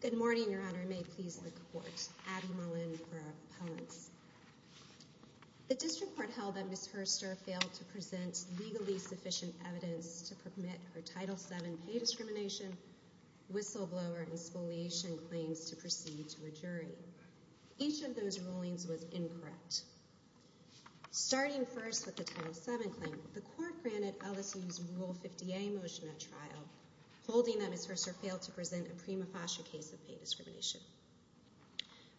Good morning, Your Honor. May it please the Court. Abby Mullin for Appellants. The District Court held that Ms. Herster failed to present legally sufficient evidence to permit her Title VII pay discrimination, whistleblower, and spoliation claims to proceed to a jury. Each of those rulings was incorrect. Starting first with the Title VII claim, the Court granted LSU's Rule 50A motion at trial, holding that Ms. Herster failed to present a prima facie case of pay discrimination.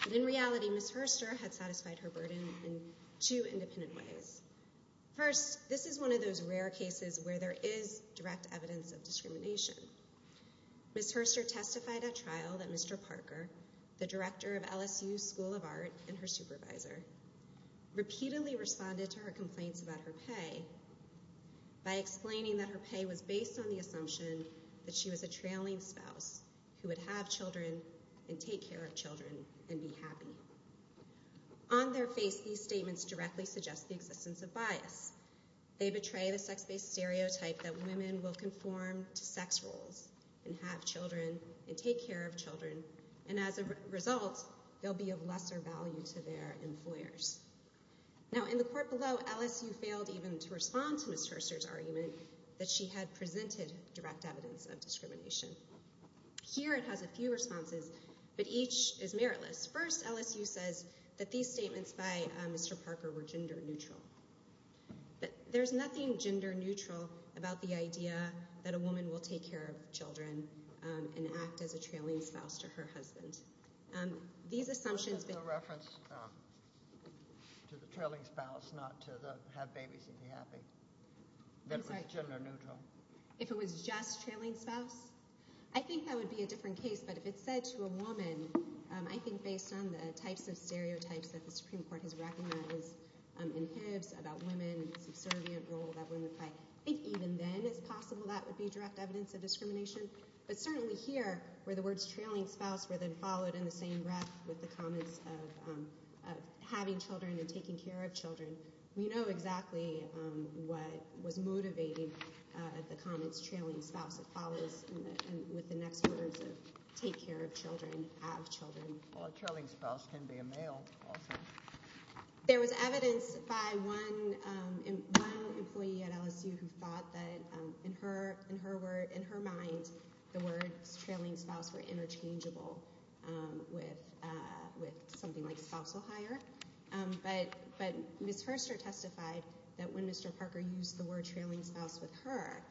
But in reality, Ms. Herster had satisfied her burden in two independent ways. First, this is one of those rare cases where there is direct evidence of discrimination. Ms. Herster testified at trial that Mr. Parker, the director of LSU's School of Art and her supervisor, repeatedly responded to her complaints about her pay by explaining that her pay was based on the assumption that she was a trailing spouse who would have children and take care of children and be happy. On their face, these statements directly suggest the existence of bias. They betray the sex-based stereotype that women will conform to sex roles and have children and take care of children, and as a result, they'll be of lesser value to their employers. Now, in the court below, LSU failed even to respond to Ms. Herster's argument that she had presented direct evidence of discrimination. Here it has a few responses, but each is meritless. First, LSU says that these statements by Mr. Parker were gender neutral. There's nothing gender neutral about the idea that a woman will take care of children and act as a trailing spouse to her husband. What if it's a reference to the trailing spouse, not to the have babies and be happy? That was gender neutral. If it was just trailing spouse? I think that would be a different case, but if it's said to a woman, I think based on the types of stereotypes that the Supreme Court has recognized that was in Hibbs about women's subservient role that women play, I think even then it's possible that would be direct evidence of discrimination. But certainly here, where the words trailing spouse were then followed in the same breath with the comments of having children and taking care of children, we know exactly what was motivating the comments trailing spouse that follows with the next words of take care of children, have children. Well, a trailing spouse can be a male also. There was evidence by one employee at LSU who thought that in her mind, the words trailing spouse were interchangeable with something like spousal hire. But Ms. Herster testified that when Mr. Parker used the word trailing spouse with her,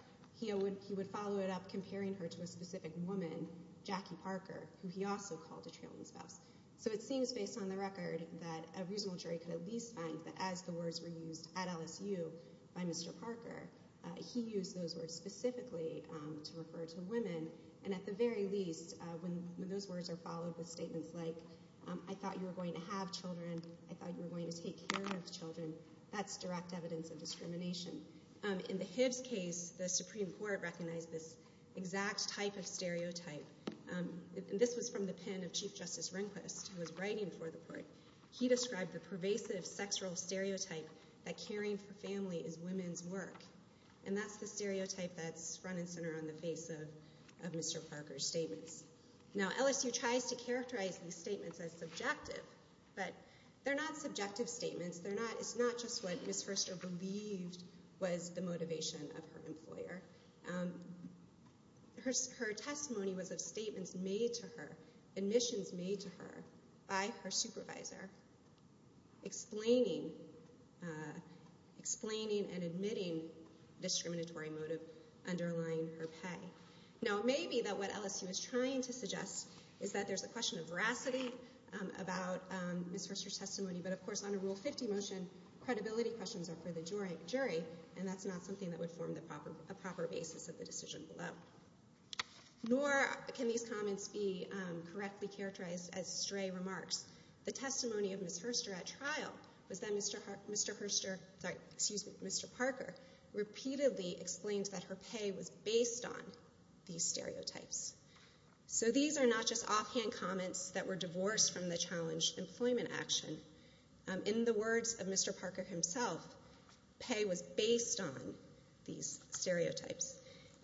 he would follow it up comparing her to a specific woman, Jackie Parker, who he also called a trailing spouse. So it seems based on the record that a reasonable jury could at least find that as the words were used at LSU by Mr. Parker, he used those words specifically to refer to women. And at the very least, when those words are followed with statements like I thought you were going to have children, I thought you were going to take care of children, that's direct evidence of discrimination. In the Hibbs case, the Supreme Court recognized this exact type of stereotype. This was from the pen of Chief Justice Rehnquist who was writing for the court. He described the pervasive sexual stereotype that caring for family is women's work. And that's the stereotype that's front and center on the face of Mr. Parker's statements. Now, LSU tries to characterize these statements as subjective, but they're not subjective statements. It's not just what Ms. Furster believed was the motivation of her employer. Her testimony was of statements made to her, admissions made to her, by her supervisor, explaining and admitting discriminatory motive underlying her pay. Now, it may be that what LSU is trying to suggest is that there's a question of veracity about Ms. Furster's testimony. But, of course, under Rule 50 motion, credibility questions are for the jury, and that's not something that would form a proper basis of the decision below. Nor can these comments be correctly characterized as stray remarks. The testimony of Ms. Furster at trial was that Mr. Parker repeatedly explained that her pay was based on these stereotypes. So these are not just offhand comments that were divorced from the challenge employment action. In the words of Mr. Parker himself, pay was based on these stereotypes.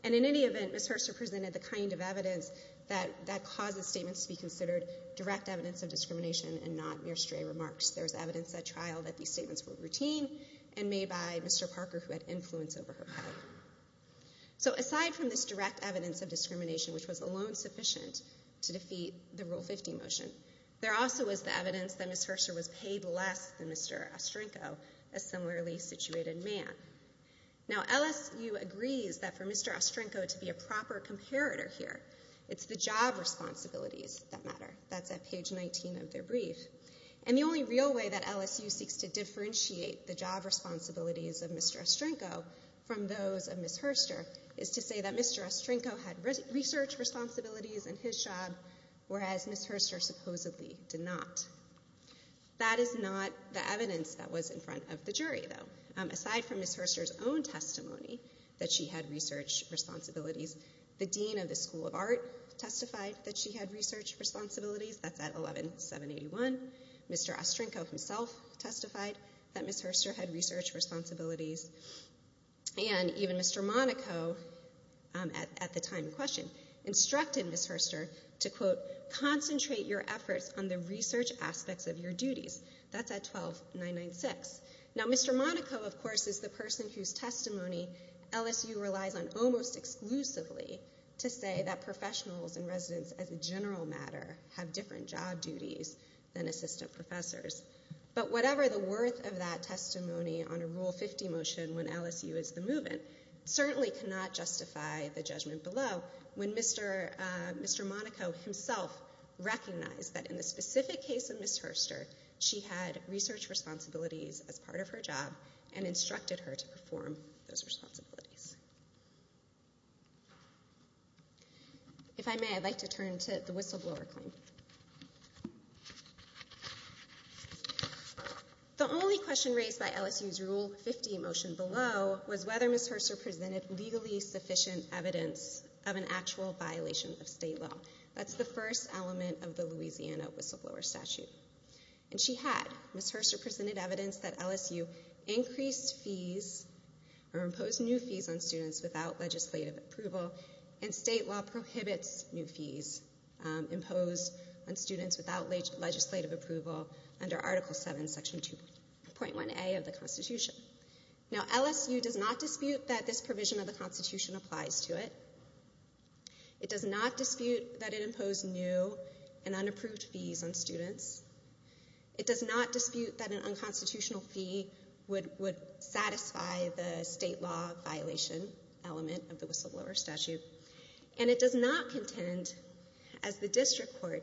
And in any event, Ms. Furster presented the kind of evidence that causes statements to be considered direct evidence of discrimination and not mere stray remarks. There's evidence at trial that these statements were routine and made by Mr. Parker, who had influence over her pay. So aside from this direct evidence of discrimination, which was alone sufficient to defeat the Rule 50 motion, there also was the evidence that Ms. Furster was paid less than Mr. Ostrinko, a similarly situated man. Now, LSU agrees that for Mr. Ostrinko to be a proper comparator here, it's the job responsibilities that matter. That's at page 19 of their brief. And the only real way that LSU seeks to differentiate the job responsibilities of Mr. Ostrinko from those of Ms. Furster is to say that Mr. Ostrinko had research responsibilities in his job, whereas Ms. Furster supposedly did not. That is not the evidence that was in front of the jury, though. Aside from Ms. Furster's own testimony that she had research responsibilities, the dean of the School of Art testified that she had research responsibilities. That's at 11781. Mr. Ostrinko himself testified that Ms. Furster had research responsibilities. And even Mr. Monaco, at the time in question, instructed Ms. Furster to, quote, concentrate your efforts on the research aspects of your duties. That's at 12996. Now, Mr. Monaco, of course, is the person whose testimony LSU relies on almost exclusively to say that professionals and residents, as a general matter, have different job duties than assistant professors. But whatever the worth of that testimony on a Rule 50 motion when LSU is the move-in certainly cannot justify the judgment below when Mr. Monaco himself recognized that in the specific case of Ms. Furster, she had research responsibilities as part of her job and instructed her to perform those responsibilities. If I may, I'd like to turn to the whistleblower claim. The only question raised by LSU's Rule 50 motion below was whether Ms. Furster presented legally sufficient evidence of an actual violation of state law. That's the first element of the Louisiana whistleblower statute. And she had. Ms. Furster presented evidence that LSU increased fees or imposed new fees on students without legislative approval, and state law prohibits new fees imposed on students without legislative approval under Article 7, Section 2.1a of the Constitution. Now, LSU does not dispute that this provision of the Constitution applies to it. It does not dispute that it imposed new and unapproved fees on students. It does not dispute that an unconstitutional fee would satisfy the state law violation element of the whistleblower statute. And it does not contend, as the district court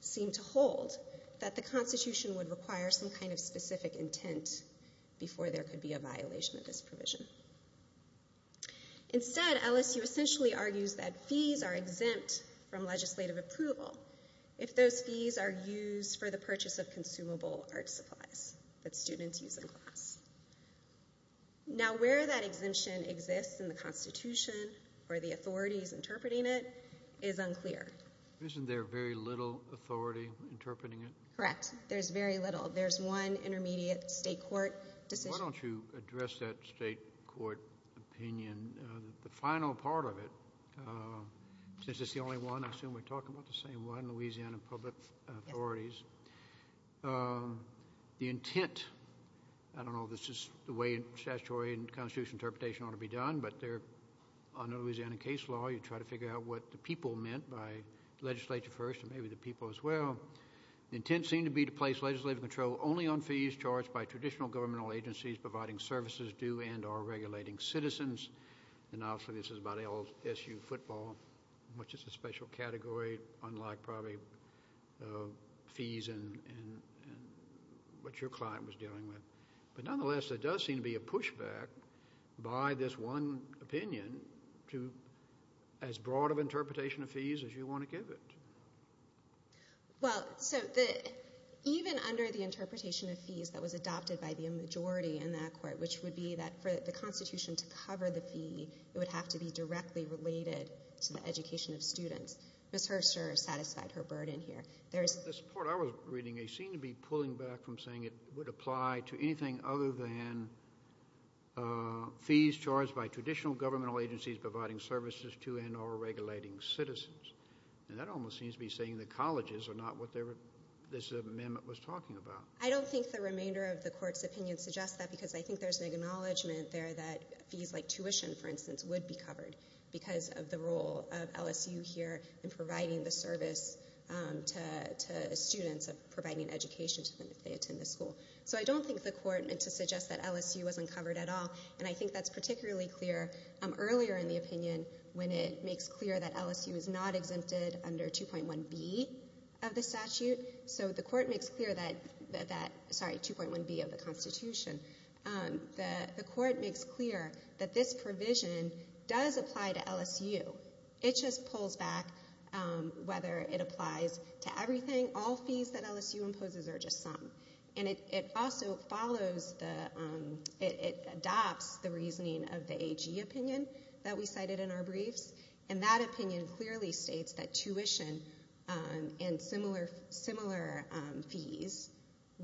seemed to hold, that the Constitution would require some kind of specific intent before there could be a violation of this provision. Instead, LSU essentially argues that fees are exempt from legislative approval if those fees are used for the purchase of consumable art supplies that students use in class. Now, where that exemption exists in the Constitution, or the authorities interpreting it, is unclear. Isn't there very little authority interpreting it? Correct. There's very little. There's one intermediate state court decision. Why don't you address that state court opinion, the final part of it, since it's the only one. I assume we're talking about the same one, Louisiana public authorities. The intent, I don't know if this is the way statutory and constitutional interpretation ought to be done, but under Louisiana case law, you try to figure out what the people meant by legislature first, and maybe the people as well. The intent seemed to be to place legislative control only on fees charged by traditional governmental agencies providing services due and are regulating citizens. And obviously this is about LSU football, which is a special category, unlike probably fees and what your client was dealing with. But nonetheless, there does seem to be a pushback by this one opinion to as broad of an interpretation of fees as you want to give it. Well, so even under the interpretation of fees that was adopted by the majority in that court, which would be that for the Constitution to cover the fee, it would have to be directly related to the education of students. Ms. Herscher satisfied her burden here. The support I was reading seemed to be pulling back from saying it would apply to anything other than fees charged by traditional governmental agencies providing services to and are regulating citizens. And that almost seems to be saying the colleges are not what this amendment was talking about. I don't think the remainder of the court's opinion suggests that, because I think there's an acknowledgment there that fees like tuition, for instance, would be covered because of the role of LSU here in providing the service to students, of providing education to them if they attend the school. So I don't think the court meant to suggest that LSU was uncovered at all, and I think that's particularly clear earlier in the opinion when it makes clear that LSU is not exempted under 2.1b of the statute. So the court makes clear that, sorry, 2.1b of the Constitution. The court makes clear that this provision does apply to LSU. It just pulls back whether it applies to everything. All fees that LSU imposes are just some. And it also follows the, it adopts the reasoning of the AG opinion that we cited in our briefs, and that opinion clearly states that tuition and similar fees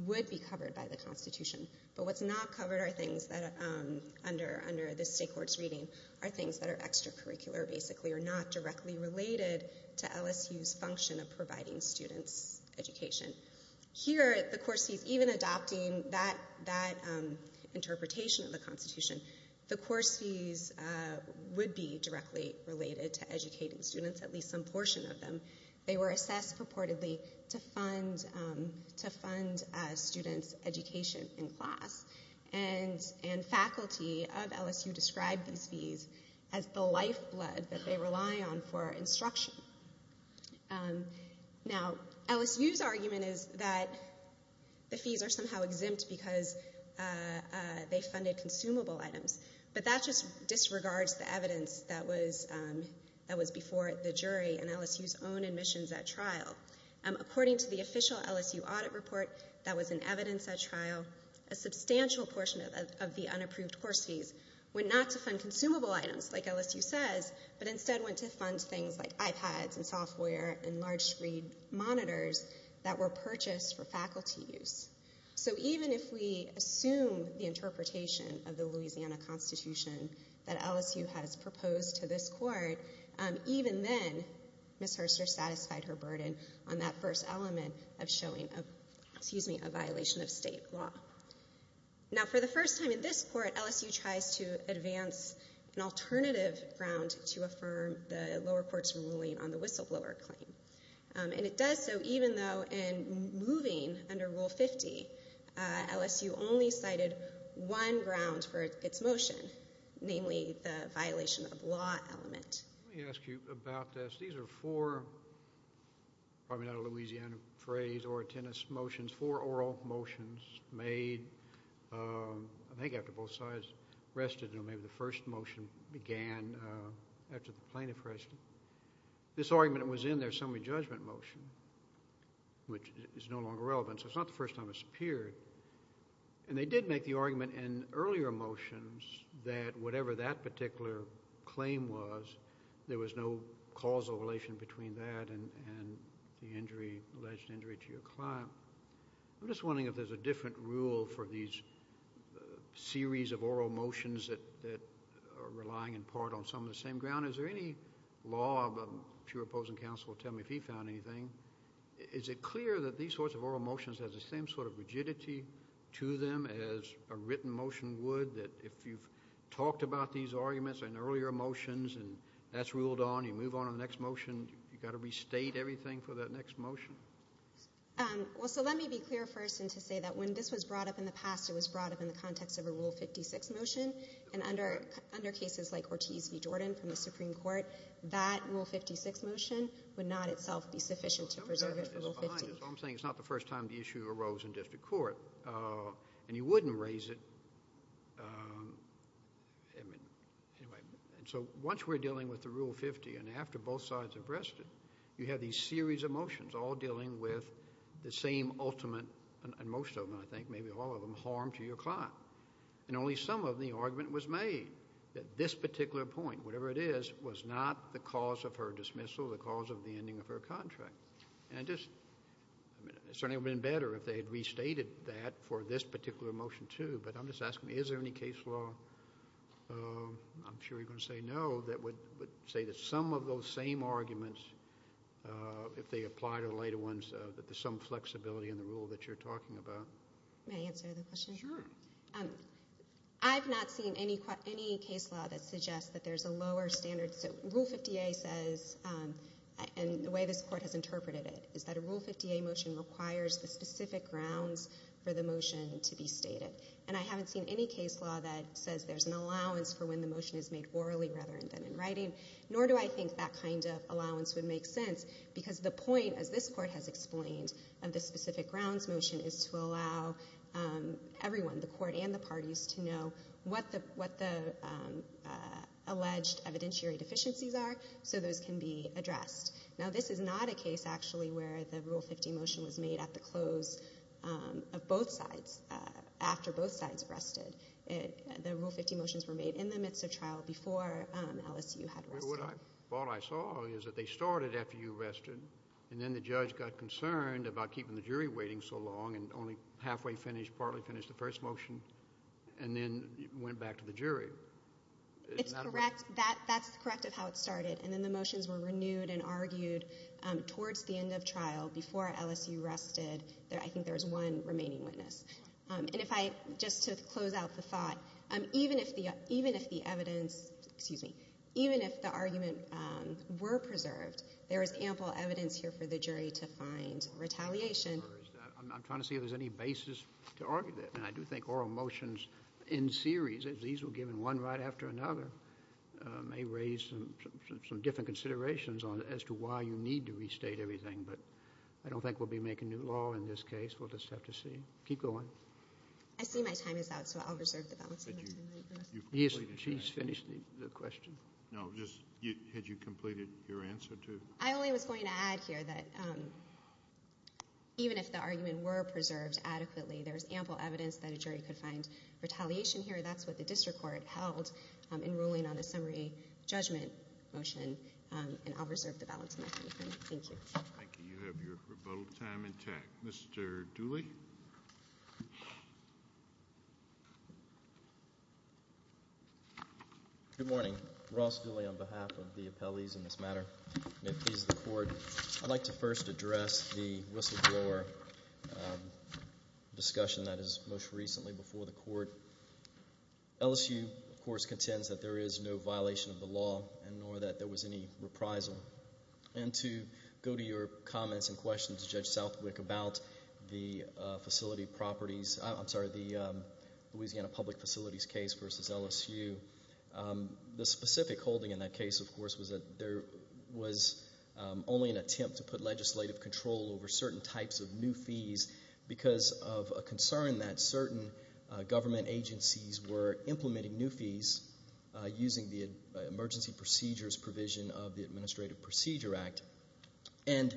would be covered by the Constitution. But what's not covered are things that, under this state court's reading, are things that are extracurricular, basically, or not directly related to LSU's function of providing students education. Here, the course fees, even adopting that interpretation of the Constitution, the course fees would be directly related to educating students, at least some portion of them. They were assessed purportedly to fund students' education in class. And faculty of LSU described these fees as the lifeblood that they rely on for instruction. Now, LSU's argument is that the fees are somehow exempt because they funded consumable items. But that just disregards the evidence that was before the jury in LSU's own admissions at trial. According to the official LSU audit report that was in evidence at trial, a substantial portion of the unapproved course fees went not to fund consumable items, like LSU says, but instead went to fund things like iPads and software and large screen monitors that were purchased for faculty use. So even if we assume the interpretation of the Louisiana Constitution that LSU has proposed to this court, even then, Ms. Herster satisfied her burden on that first element of showing a violation of state law. Now, for the first time in this court, LSU tries to advance an alternative ground to affirm the lower court's ruling on the whistleblower claim. And it does so even though in moving under Rule 50, LSU only cited one ground for its motion, namely the violation of law element. Let me ask you about this. These are four, probably not a Louisiana phrase or a tennis motion, four oral motions made, I think, after both sides rested. Maybe the first motion began after the plaintiff rested. This argument was in their summary judgment motion, which is no longer relevant, so it's not the first time it's appeared. And they did make the argument in earlier motions that whatever that particular claim was, there was no causal relation between that and the alleged injury to your client. I'm just wondering if there's a different rule for these series of oral motions that are relying in part on some of the same ground. Is there any law, if your opposing counsel will tell me if he found anything, is it clear that these sorts of oral motions have the same sort of rigidity to them as a written motion would, that if you've talked about these arguments in earlier motions and that's ruled on, you move on to the next motion, you've got to restate everything for that next motion? Well, so let me be clear first and to say that when this was brought up in the past, it was brought up in the context of a Rule 56 motion. And under cases like Ortiz v. Jordan from the Supreme Court, that Rule 56 motion would not itself be sufficient to preserve it for Rule 50. I'm saying it's not the first time the issue arose in district court, and you wouldn't raise it. And so once we're dealing with the Rule 50 and after both sides have rested, you have these series of motions all dealing with the same ultimate, and most of them, I think, maybe all of them, harm to your client. And only some of the argument was made that this particular point, whatever it is, was not the cause of her dismissal, the cause of the ending of her contract. And it just certainly would have been better if they had restated that for this particular motion too. But I'm just asking, is there any case law, I'm sure you're going to say no, that would say that some of those same arguments, if they apply to the later ones, that there's some flexibility in the rule that you're talking about? May I answer the question? Sure. I've not seen any case law that suggests that there's a lower standard. So Rule 50a says, and the way this court has interpreted it, is that a Rule 50a motion requires the specific grounds for the motion to be stated. And I haven't seen any case law that says there's an allowance for when the motion is made orally rather than in writing, nor do I think that kind of allowance would make sense, because the point, as this court has explained, of this specific grounds motion is to allow everyone, the court and the parties, to know what the alleged evidentiary deficiencies are so those can be addressed. Now, this is not a case actually where the Rule 50 motion was made at the close of both sides, after both sides rested. The Rule 50 motions were made in the midst of trial before LSU had rested. Well, what I saw is that they started after you rested, and then the judge got concerned about keeping the jury waiting so long and only halfway finished, partly finished the first motion, and then went back to the jury. It's correct. That's correct of how it started. And then the motions were renewed and argued towards the end of trial before LSU rested. I think there was one remaining witness. And if I, just to close out the thought, even if the evidence, excuse me, even if the argument were preserved, there is ample evidence here for the jury to find retaliation. I'm trying to see if there's any basis to argue that. And I do think oral motions in series, if these were given one right after another, may raise some different considerations as to why you need to restate everything. But I don't think we'll be making new law in this case. We'll just have to see. Keep going. I see my time is out, so I'll reserve the balance of my time. She's finished the question. No, just had you completed your answer too? I only was going to add here that even if the argument were preserved adequately, there is ample evidence that a jury could find retaliation here. That's what the district court held in ruling on the summary judgment motion, and I'll reserve the balance of my time. Thank you. Thank you. You have your rebuttal time intact. Mr. Dooley. Good morning. Ross Dooley on behalf of the appellees in this matter. May it please the Court, I'd like to first address the whistleblower discussion that is most recently before the Court. LSU, of course, contends that there is no violation of the law, nor that there was any reprisal. And to go to your comments and questions, Judge Southwick, about the Louisiana Public Facilities case versus LSU, the specific holding in that case, of course, was that there was only an attempt to put legislative control over certain types of new fees because of a concern that certain government agencies were implementing new fees using the emergency procedures provision of the Administrative Procedure Act. And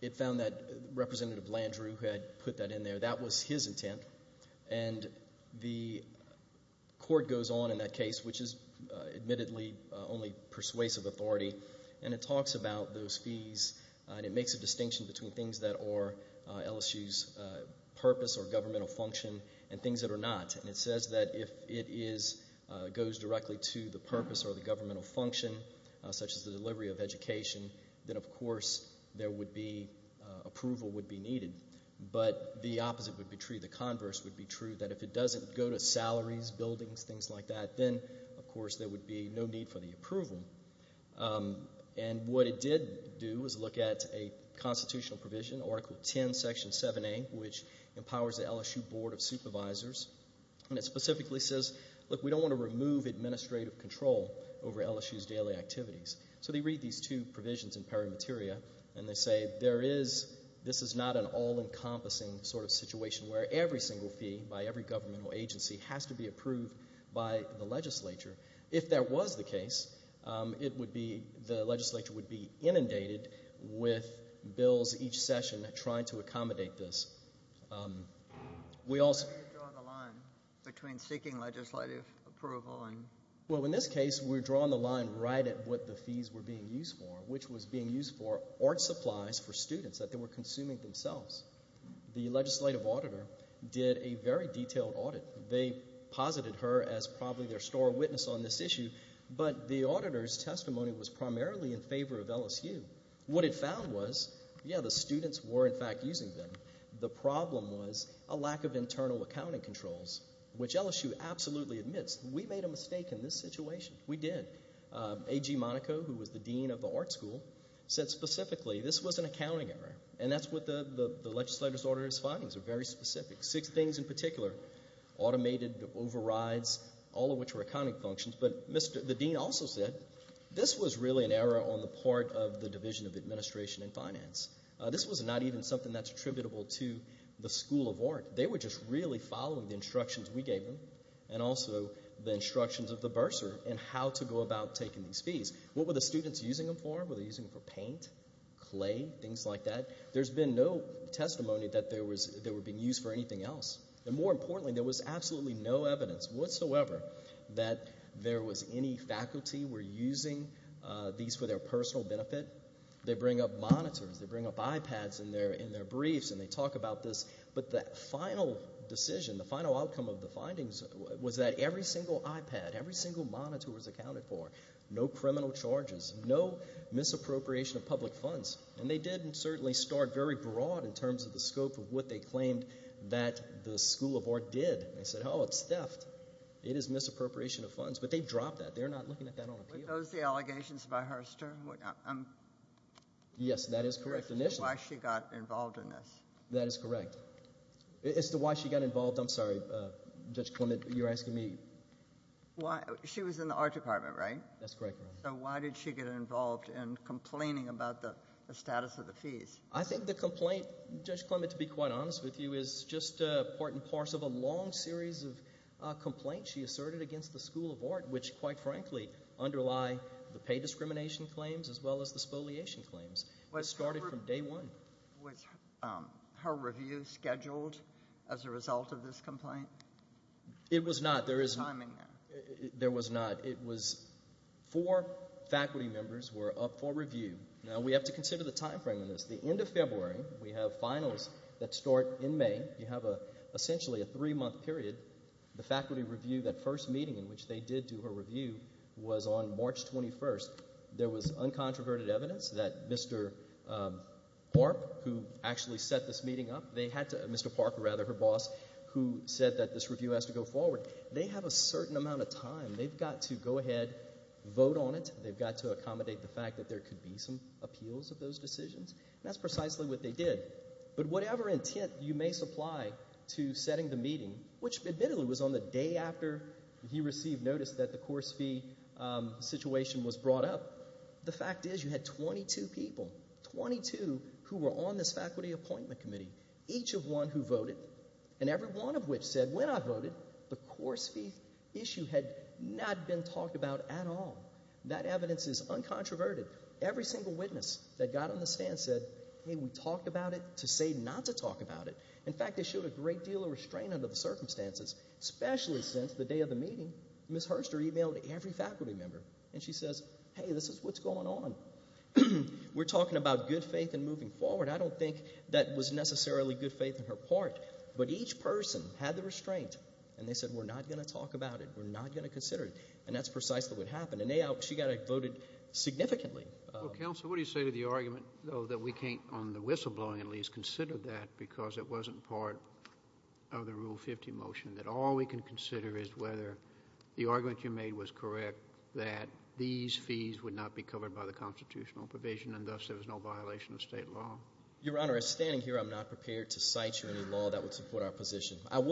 it found that Representative Landrieu had put that in there. That was his intent. And the Court goes on in that case, which is admittedly only persuasive authority, and it talks about those fees and it makes a distinction between things that are LSU's purpose or governmental function and things that are not. And it says that if it goes directly to the purpose or the governmental function, such as the delivery of education, then, of course, there would be approval would be needed. But the opposite would be true. The converse would be true, that if it doesn't go to salaries, buildings, things like that, then, of course, there would be no need for the approval. And what it did do was look at a constitutional provision, Article 10, Section 7A, which empowers the LSU Board of Supervisors, and it specifically says, look, we don't want to remove administrative control over LSU's daily activities. So they read these two provisions in Pari Materia, and they say, this is not an all-encompassing sort of situation where every single fee by every governmental agency has to be approved by the legislature. If that was the case, the legislature would be inundated with bills each session trying to accommodate this. Why are you drawing the line between seeking legislative approval and? Well, in this case, we're drawing the line right at what the fees were being used for, which was being used for art supplies for students that they were consuming themselves. The legislative auditor did a very detailed audit. They posited her as probably their store witness on this issue, but the auditor's testimony was primarily in favor of LSU. What it found was, yeah, the students were, in fact, using them. The problem was a lack of internal accounting controls, which LSU absolutely admits. We made a mistake in this situation. We did. A.G. Monaco, who was the dean of the art school, said specifically this was an accounting error, and that's what the legislature's auditor's findings are very specific. Six things in particular, automated overrides, all of which were accounting functions. But the dean also said this was really an error on the part of the Division of Administration and Finance. This was not even something that's attributable to the School of Art. They were just really following the instructions we gave them and also the instructions of the bursar in how to go about taking these fees. What were the students using them for? Were they using them for paint, clay, things like that? There's been no testimony that they were being used for anything else. And more importantly, there was absolutely no evidence whatsoever that there was any faculty were using these for their personal benefit. They bring up monitors. They bring up iPads in their briefs, and they talk about this. But the final decision, the final outcome of the findings was that every single iPad, every single monitor was accounted for, no criminal charges, no misappropriation of public funds. And they did certainly start very broad in terms of the scope of what they claimed that the School of Art did. They said, oh, it's theft. It is misappropriation of funds. But they dropped that. They're not looking at that on appeal. Are those the allegations by Hurster? Yes, that is correct initially. Why she got involved in this. That is correct. As to why she got involved, I'm sorry, Judge Clement, you're asking me? She was in the art department, right? That's correct, Your Honor. So why did she get involved in complaining about the status of the fees? I think the complaint, Judge Clement, to be quite honest with you, is just part and parcel of a long series of complaints she asserted against the School of Art, which quite frankly underlie the pay discrimination claims as well as the spoliation claims. It started from day one. Was her review scheduled as a result of this complaint? It was not. There is no timing there. There was not. It was four faculty members were up for review. Now, we have to consider the time frame in this. The end of February, we have finals that start in May. You have essentially a three-month period. The faculty review, that first meeting in which they did do a review, was on March 21st. There was uncontroverted evidence that Mr. Park, who actually set this meeting up, Mr. Park, rather, her boss, who said that this review has to go forward. They have a certain amount of time. They've got to go ahead, vote on it. They've got to accommodate the fact that there could be some appeals of those decisions. And that's precisely what they did. But whatever intent you may supply to setting the meeting, which admittedly was on the day after he received notice that the course fee situation was brought up, the fact is you had 22 people, 22 who were on this faculty appointment committee, each of one who voted, and every one of which said, when I voted, the course fee issue had not been talked about at all. That evidence is uncontroverted. Every single witness that got on the stand said, hey, we talked about it to say not to talk about it. In fact, they showed a great deal of restraint under the circumstances, especially since the day of the meeting, Ms. Herster emailed every faculty member, and she says, hey, this is what's going on. We're talking about good faith and moving forward. I don't think that was necessarily good faith on her part. But each person had the restraint, and they said, we're not going to talk about it. We're not going to consider it. And that's precisely what happened. She got voted significantly. Counsel, what do you say to the argument, though, that we can't, on the whistleblowing at least, consider that because it wasn't part of the Rule 50 motion, that all we can consider is whether the argument you made was correct, that these fees would not be covered by the constitutional provision, and thus there was no violation of state law? Your Honor, as standing here, I'm not prepared to cite you any law that would support our position. But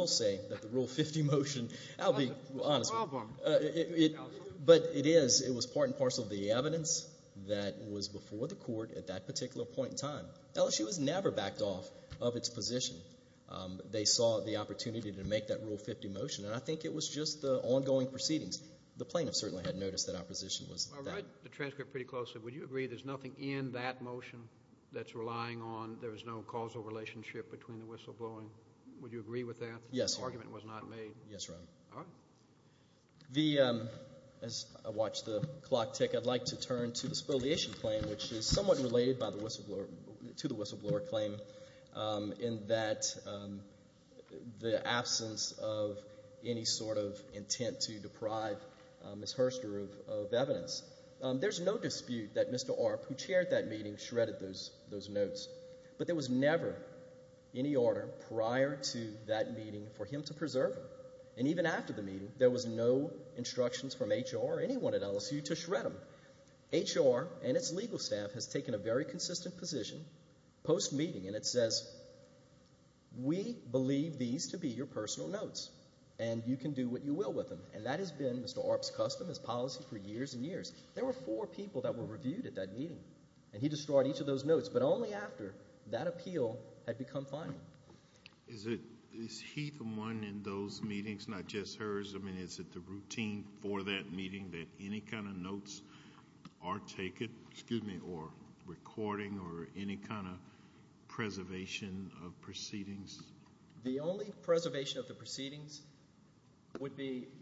it is. It was part and parcel of the evidence that was before the court at that particular point in time. LSU has never backed off of its position. They saw the opportunity to make that Rule 50 motion, and I think it was just the ongoing proceedings. The plaintiff certainly had noticed that our position was that. I'll write the transcript pretty closely. Would you agree there's nothing in that motion that's relying on there's no causal relationship between the whistleblowing? Would you agree with that? Yes, Your Honor. The argument was not made? Yes, Your Honor. All right. As I watch the clock tick, I'd like to turn to the spoliation claim, which is somewhat related to the whistleblower claim in that the absence of any sort of intent to deprive Ms. Herster of evidence. There's no dispute that Mr. Arp, who chaired that meeting, shredded those notes. But there was never any order prior to that meeting for him to preserve them. And even after the meeting, there was no instructions from HR or anyone at LSU to shred them. HR and its legal staff has taken a very consistent position post-meeting, and it says, We believe these to be your personal notes, and you can do what you will with them. And that has been Mr. Arp's custom, his policy for years and years. There were four people that were reviewed at that meeting, and he destroyed each of those notes. But only after that appeal had become final. Is he the one in those meetings, not just hers? I mean, is it the routine for that meeting that any kind of notes are taken, or recording, or any kind of preservation of proceedings? The only preservation of the proceedings,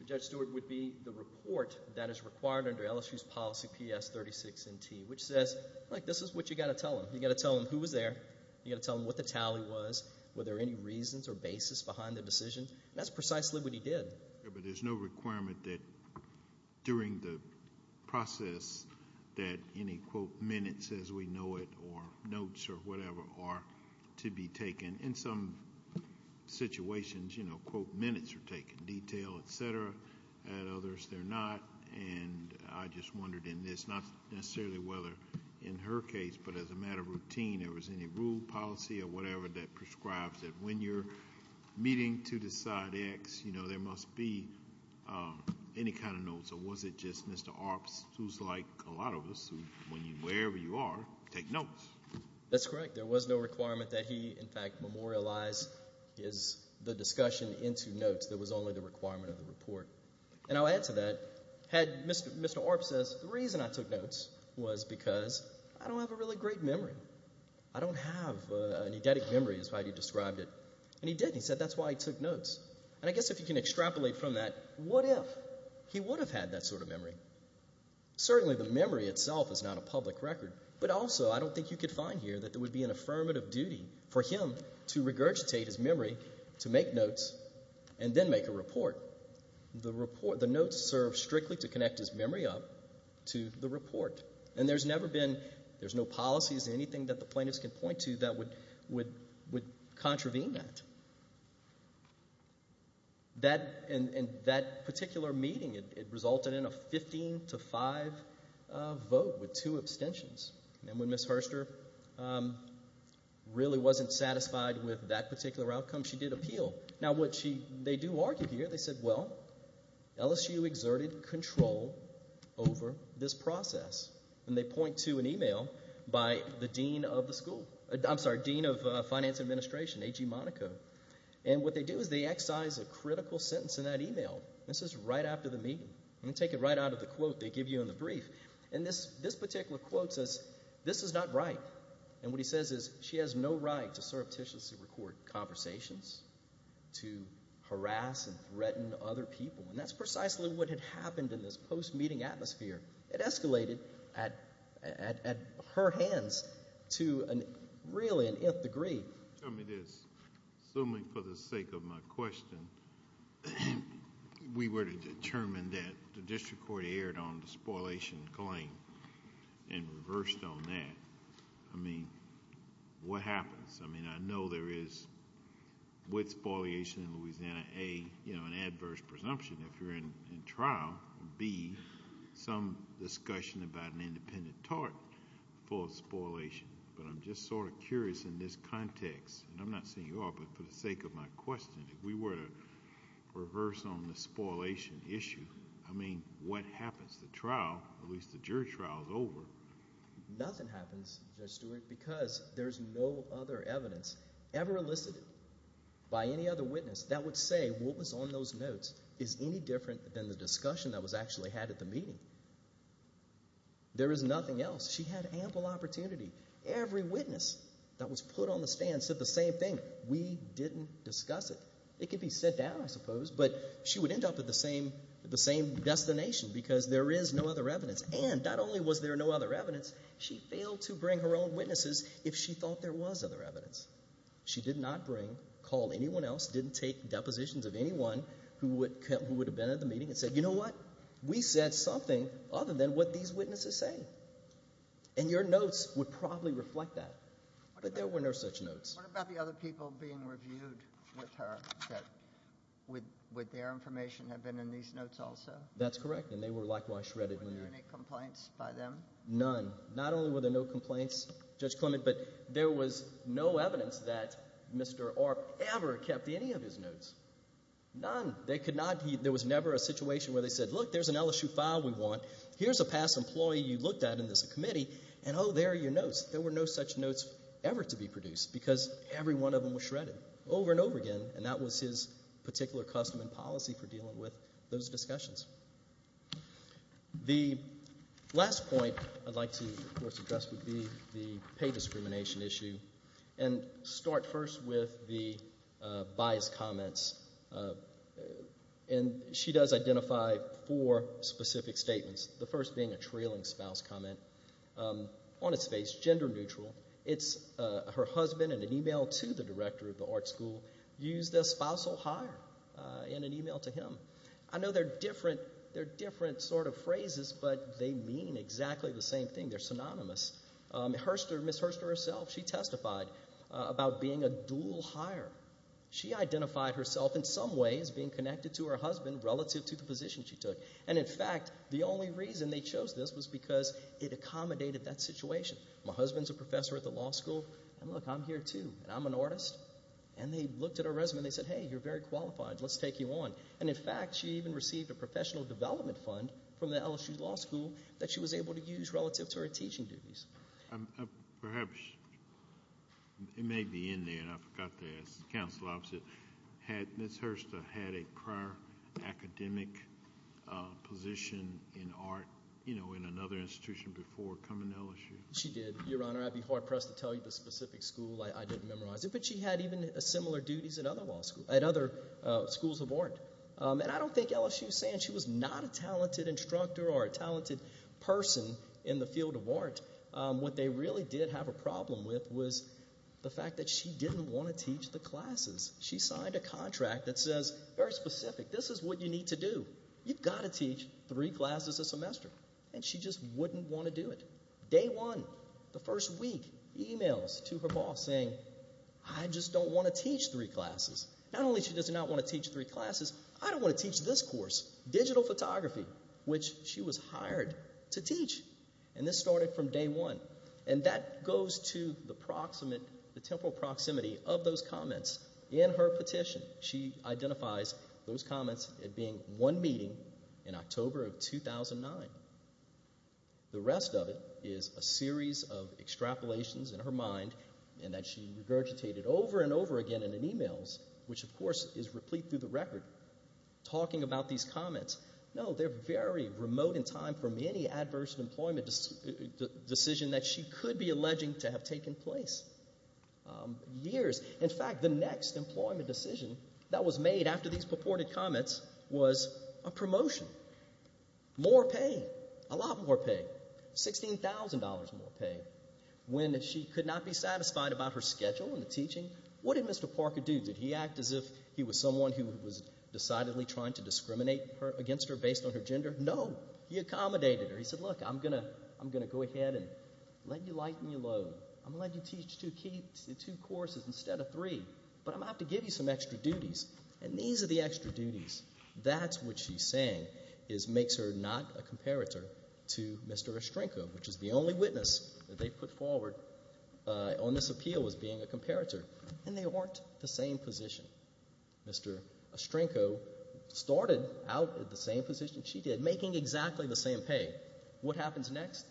Judge Stewart, would be the report that is required under LSU's policy PS 36NT, which says, look, this is what you've got to tell them. You've got to tell them who was there. You've got to tell them what the tally was, were there any reasons or basis behind the decision. That's precisely what he did. But there's no requirement that during the process that any, quote, minutes, as we know it, or notes, or whatever, are to be taken. In some situations, you know, quote, minutes are taken, detail, et cetera. At others, they're not. And I just wondered in this, not necessarily whether in her case, but as a matter of routine, there was any rule, policy, or whatever that prescribes that when you're meeting to decide X, you know, there must be any kind of notes. Or was it just Mr. Arps, who's like a lot of us, wherever you are, take notes? That's correct. There was no requirement that he, in fact, memorialize the discussion into notes. That was only the requirement of the report. And I'll add to that, had Mr. Arps said the reason I took notes was because I don't have a really great memory. I don't have an eidetic memory is how he described it. And he did, and he said that's why he took notes. And I guess if you can extrapolate from that, what if he would have had that sort of memory? Certainly the memory itself is not a public record. But also I don't think you could find here that there would be an affirmative duty for him to regurgitate his memory, to make notes, and then make a report. The notes serve strictly to connect his memory up to the report. And there's never been, there's no policies or anything that the plaintiffs can point to that would contravene that. That particular meeting, it resulted in a 15 to 5 vote with two abstentions. And when Ms. Hurster really wasn't satisfied with that particular outcome, she did appeal. Now what she, they do argue here. They said, well, LSU exerted control over this process. And they point to an e-mail by the dean of the school, I'm sorry, dean of finance administration, A.G. Monaco. And what they do is they excise a critical sentence in that e-mail. This is right after the meeting. I'm going to take it right out of the quote they give you in the brief. And this particular quote says, this is not right. And what he says is she has no right to surreptitiously record conversations, to harass and threaten other people. And that's precisely what had happened in this post-meeting atmosphere. It escalated at her hands to really an nth degree. Tell me this. Assuming for the sake of my question, we were to determine that the district court erred on the spoliation claim and reversed on that. I mean, what happens? I mean, I know there is, with spoliation in Louisiana, A, an adverse presumption if you're in trial, B, some discussion about an independent tort for spoliation. But I'm just sort of curious in this context, and I'm not saying you are, but for the sake of my question, if we were to reverse on the spoliation issue, I mean, what happens? The trial, at least the jury trial, is over. Nothing happens, Judge Stewart, because there's no other evidence ever elicited by any other witness that would say what was on those notes is any different than the discussion that was actually had at the meeting. There is nothing else. She had ample opportunity. Every witness that was put on the stand said the same thing. We didn't discuss it. It could be set down, I suppose, but she would end up at the same destination because there is no other evidence. And not only was there no other evidence, she failed to bring her own witnesses if she thought there was other evidence. She did not bring, call anyone else, didn't take depositions of anyone who would have been at the meeting and said, you know what, we said something other than what these witnesses say. And your notes would probably reflect that. But there were no such notes. What about the other people being reviewed with her that would their information have been in these notes also? That's correct, and they were likewise shredded. Were there any complaints by them? None. Not only were there no complaints, Judge Clement, but there was no evidence that Mr. Arp ever kept any of his notes. None. There was never a situation where they said, look, there's an LSU file we want. Here's a past employee you looked at in this committee, and oh, there are your notes. There were no such notes ever to be produced because every one of them was shredded over and over again, and that was his particular custom and policy for dealing with those discussions. The last point I'd like to, of course, address would be the pay discrimination issue and start first with the biased comments, and she does identify four specific statements, the first being a trailing spouse comment on its face, gender neutral. It's her husband in an email to the director of the art school used a spousal hire in an email to him. I know they're different sort of phrases, but they mean exactly the same thing. They're synonymous. Ms. Herster herself, she testified about being a dual hire. She identified herself in some ways being connected to her husband relative to the position she took, and in fact, the only reason they chose this was because it accommodated that situation. My husband's a professor at the law school, and look, I'm here too, and I'm an artist, and they looked at her resume and they said, hey, you're very qualified. Let's take you on, and in fact, she even received a professional development fund from the LSU law school that she was able to use relative to her teaching duties. Perhaps it may be in there, and I forgot to ask the counsel opposite. Had Ms. Herster had a prior academic position in art in another institution before coming to LSU? She did, Your Honor. I'd be hard pressed to tell you the specific school. I didn't memorize it, but she had even similar duties at other schools of art, and I don't think LSU is saying she was not a talented instructor or a talented person in the field of art. What they really did have a problem with was the fact that she didn't want to teach the classes. She signed a contract that says, very specific, this is what you need to do. You've got to teach three classes a semester, and she just wouldn't want to do it. Day one, the first week, emails to her boss saying, I just don't want to teach three classes. Not only does she not want to teach three classes, I don't want to teach this course, digital photography, which she was hired to teach, and this started from day one, and that goes to the temporal proximity of those comments in her petition. She identifies those comments as being one meeting in October of 2009. The rest of it is a series of extrapolations in her mind and that she regurgitated over and over again in emails, which of course is replete through the record, talking about these comments. No, they're very remote in time from any adverse employment decision that she could be alleging to have taken place. Years. In fact, the next employment decision that was made after these purported comments was a promotion. More pay. A lot more pay. $16,000 more pay. When she could not be satisfied about her schedule and the teaching, what did Mr. Parker do? Did he act as if he was someone who was decidedly trying to discriminate against her based on her gender? No. He accommodated her. He said, look, I'm going to go ahead and let you lighten your load. I'm going to let you teach two courses instead of three, but I'm going to have to give you some extra duties, and these are the extra duties. That's what she's saying is makes her not a comparator to Mr. Estrenko, which is the only witness that they've put forward on this appeal as being a comparator. And they weren't the same position. Mr. Estrenko started out at the same position she did, making exactly the same pay. What happens next?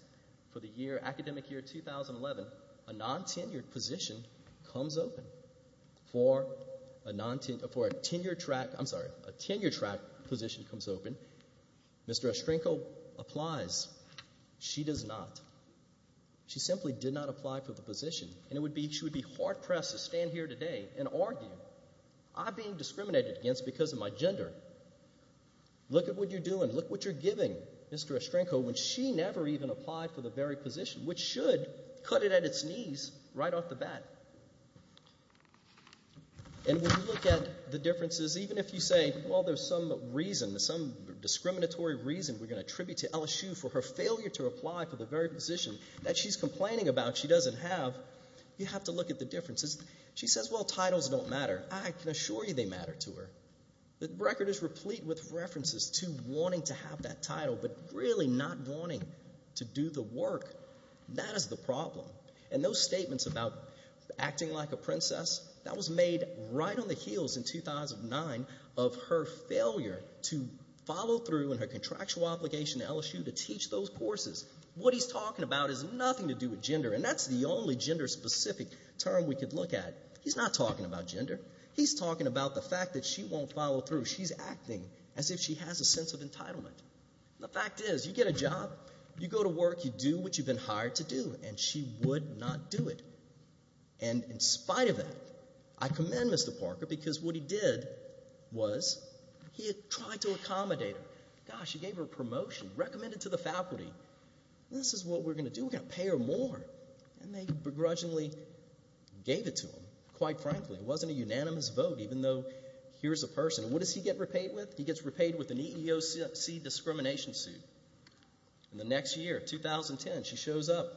For the academic year 2011, a non-tenured position comes open. For a tenured track position comes open. Mr. Estrenko applies. She does not. She simply did not apply for the position, and she would be hard-pressed to stand here today and argue. I'm being discriminated against because of my gender. Look at what you're doing. Look what you're giving, Mr. Estrenko, when she never even applied for the very position, which should cut it at its knees right off the bat. And when you look at the differences, even if you say, well, there's some reason, some discriminatory reason we're going to attribute to LSU for her failure to apply for the very position that she's complaining about she doesn't have, you have to look at the differences. She says, well, titles don't matter. I can assure you they matter to her. The record is replete with references to wanting to have that title, but really not wanting to do the work. That is the problem. And those statements about acting like a princess, that was made right on the heels in 2009 of her failure to follow through in her contractual obligation to LSU to teach those courses. What he's talking about has nothing to do with gender, and that's the only gender-specific term we could look at. He's not talking about gender. He's talking about the fact that she won't follow through. She's acting as if she has a sense of entitlement. The fact is you get a job, you go to work, you do what you've been hired to do, and she would not do it. And in spite of that, I commend Mr. Parker because what he did was he had tried to accommodate her. Gosh, he gave her a promotion, recommended to the faculty, this is what we're going to do, we're going to pay her more. And they begrudgingly gave it to him, quite frankly. It wasn't a unanimous vote, even though here's a person. What does he get repaid with? He gets repaid with an EEOC discrimination suit. And the next year, 2010, she shows up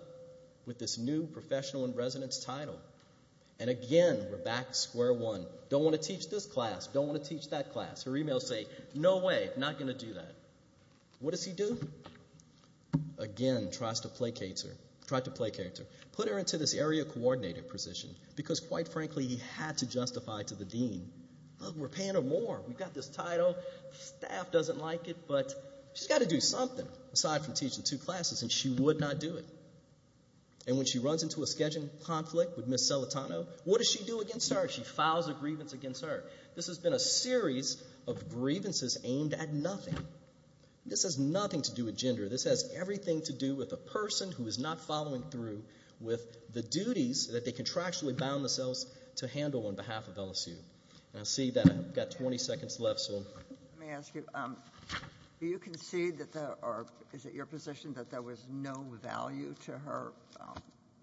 with this new professional in residence title. And again, we're back to square one. Don't want to teach this class, don't want to teach that class. Her emails say, no way, not going to do that. What does he do? Again, tries to placate her, tried to placate her. Put her into this area coordinator position because, quite frankly, he had to justify to the dean. Look, we're paying her more. We've got this title. Staff doesn't like it, but she's got to do something aside from teach the two classes, and she would not do it. And when she runs into a scheduling conflict with Ms. Celentano, what does she do against her? She files a grievance against her. This has been a series of grievances aimed at nothing. This has nothing to do with gender. This has everything to do with a person who is not following through with the duties that they contractually bound themselves to handle on behalf of LSU. And I see that I've got 20 seconds left, so. Let me ask you, do you concede that there are, is it your position that there was no value to her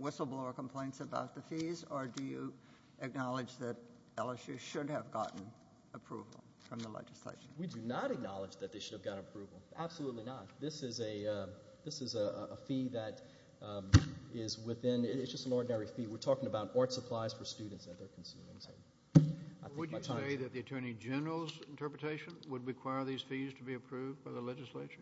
whistleblower complaints about the fees, or do you acknowledge that LSU should have gotten approval from the legislature? We do not acknowledge that they should have gotten approval. Absolutely not. This is a fee that is within, it's just an ordinary fee. We're talking about art supplies for students that they're consuming. Would you say that the attorney general's interpretation would require these fees to be approved by the legislature?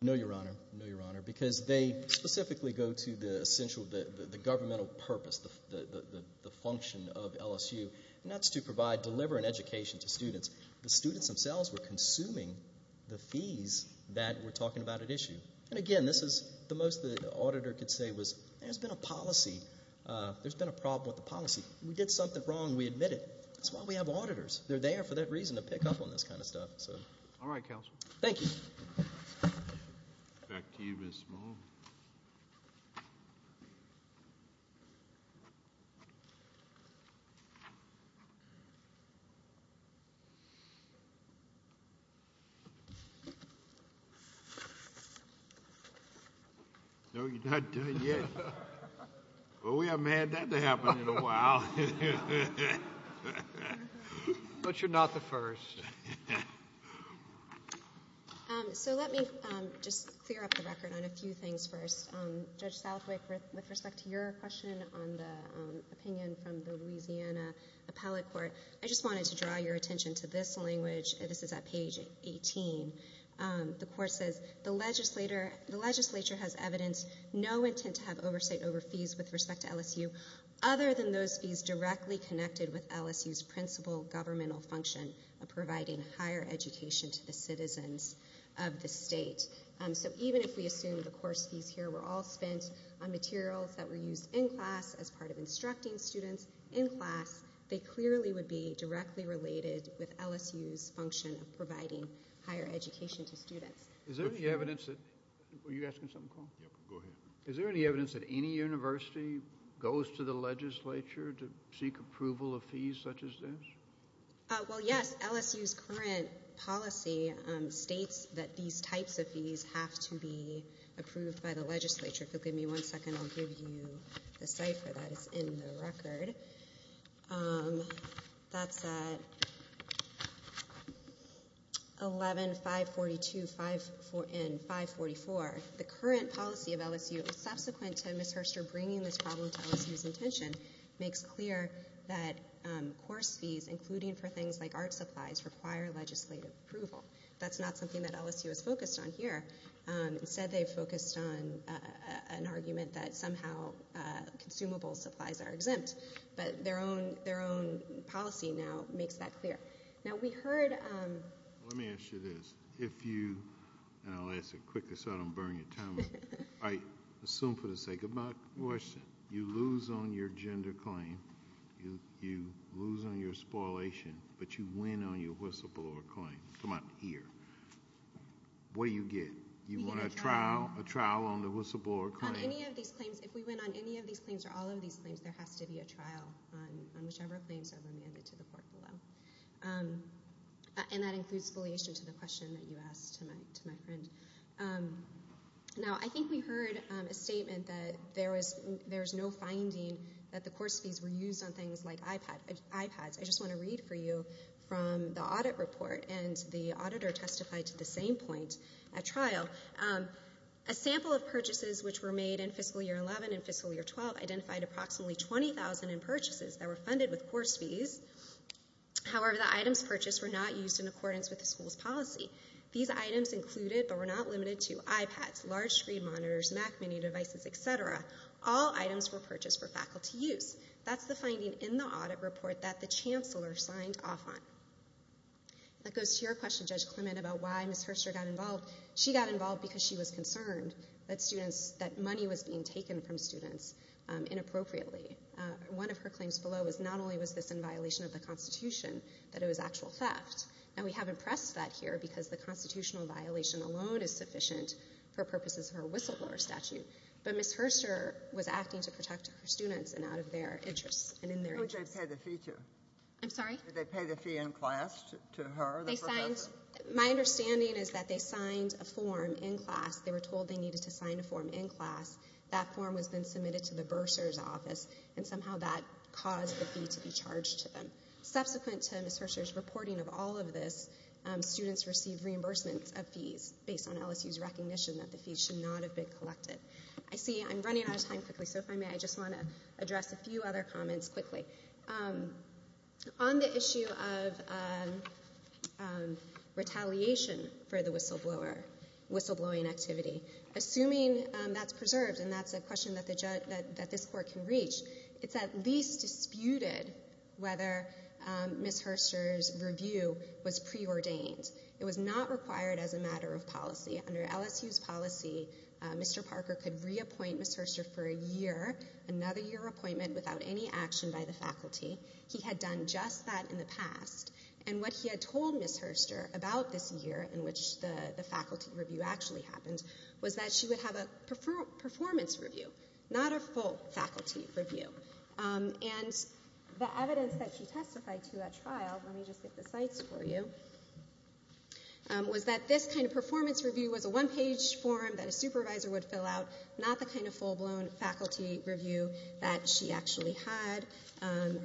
No, Your Honor. No, Your Honor. Because they specifically go to the essential, the governmental purpose, the function of LSU, and that's to provide, deliver an education to students. The students themselves were consuming the fees that we're talking about at issue. And again, this is the most the auditor could say was, there's been a policy, there's been a problem with the policy. We did something wrong, we admit it. That's why we have auditors. They're there for that reason to pick up on this kind of stuff, so. All right, counsel. Thank you. Back to you, Ms. Small. No, you're not done yet. Well, we haven't had that to happen in a while. But you're not the first. So let me just clear up the record on a few things first. Judge Southwick, with respect to your question on the opinion from the Louisiana Appellate Court, I just wanted to draw your attention to this one. This is at page 18. The court says, the legislature has evidence, no intent to have oversight over fees with respect to LSU, other than those fees directly connected with LSU's principal governmental function of providing higher education to the citizens of the state. So even if we assume the course fees here were all spent on materials that were used in class as part of instructing students in class, they clearly would be directly related with LSU's function of providing higher education to students. Is there any evidence that any university goes to the legislature to seek approval of fees such as this? Well, yes. LSU's current policy states that these types of fees have to be approved by the legislature. If you'll give me one second, I'll give you the cipher that is in the record. That's at 11.542.544. The current policy of LSU, subsequent to Ms. Herster bringing this problem to LSU's attention, makes clear that course fees, including for things like art supplies, require legislative approval. That's not something that LSU is focused on here. Instead, they've focused on an argument that somehow consumable supplies are exempt. But their own policy now makes that clear. Now, we heard- Let me ask you this. If you-and I'll ask it quickly so I don't burn your tongue. I assume for the sake of my question, you lose on your gender claim, you lose on your spoliation, but you win on your whistleblower claim. Come out here. What do you get? You win a trial on the whistleblower claim. On any of these claims, if we win on any of these claims or all of these claims, there has to be a trial on whichever claims are remanded to the court below. And that includes spoliation to the question that you asked to my friend. Now, I think we heard a statement that there is no finding that the course fees were used on things like iPads. I just want to read for you from the audit report, and the auditor testified to the same point at trial. A sample of purchases which were made in fiscal year 11 and fiscal year 12 identified approximately 20,000 in purchases that were funded with course fees. However, the items purchased were not used in accordance with the school's policy. These items included but were not limited to iPads, large screen monitors, Mac mini devices, et cetera. All items were purchased for faculty use. That's the finding in the audit report that the chancellor signed off on. That goes to your question, Judge Clement, about why Ms. Herster got involved. She got involved because she was concerned that money was being taken from students inappropriately. One of her claims below was not only was this in violation of the Constitution, but it was actual theft. And we haven't pressed that here because the constitutional violation alone is sufficient for purposes of her whistleblower statute. But Ms. Herster was acting to protect her students and out of their interests and in their interests. Who did they pay the fee to? I'm sorry? Did they pay the fee in class to her, the professor? My understanding is that they signed a form in class. They were told they needed to sign a form in class. That form was then submitted to the bursar's office, and somehow that caused the fee to be charged to them. Subsequent to Ms. Herster's reporting of all of this, students received reimbursements of fees based on LSU's recognition that the fees should not have been collected. I see I'm running out of time quickly, so if I may, I just want to address a few other comments quickly. On the issue of retaliation for the whistleblower, whistleblowing activity, assuming that's preserved and that's a question that this Court can reach, it's at least disputed whether Ms. Herster's review was preordained. It was not required as a matter of policy. Under LSU's policy, Mr. Parker could reappoint Ms. Herster for a year, another year appointment without any action by the faculty. He had done just that in the past. And what he had told Ms. Herster about this year in which the faculty review actually happened was that she would have a performance review, not a full faculty review. And the evidence that she testified to at trial, let me just get the sites for you, was that this kind of performance review was a one-page form that a supervisor would fill out, not the kind of full-blown faculty review that she actually had.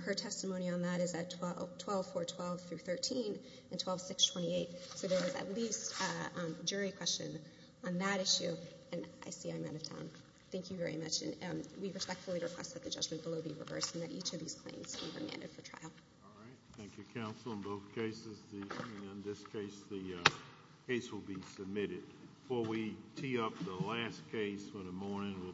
Her testimony on that is at 12.412-13 and 12.628, so there was at least a jury question on that issue. And I see I'm out of time. Thank you very much. And we respectfully request that the judgment below be reversed and that each of these claims be remanded for trial. All right. Thank you, counsel, in both cases. In this case, the case will be submitted. Before we tee up the last case for the morning, we'll take a break.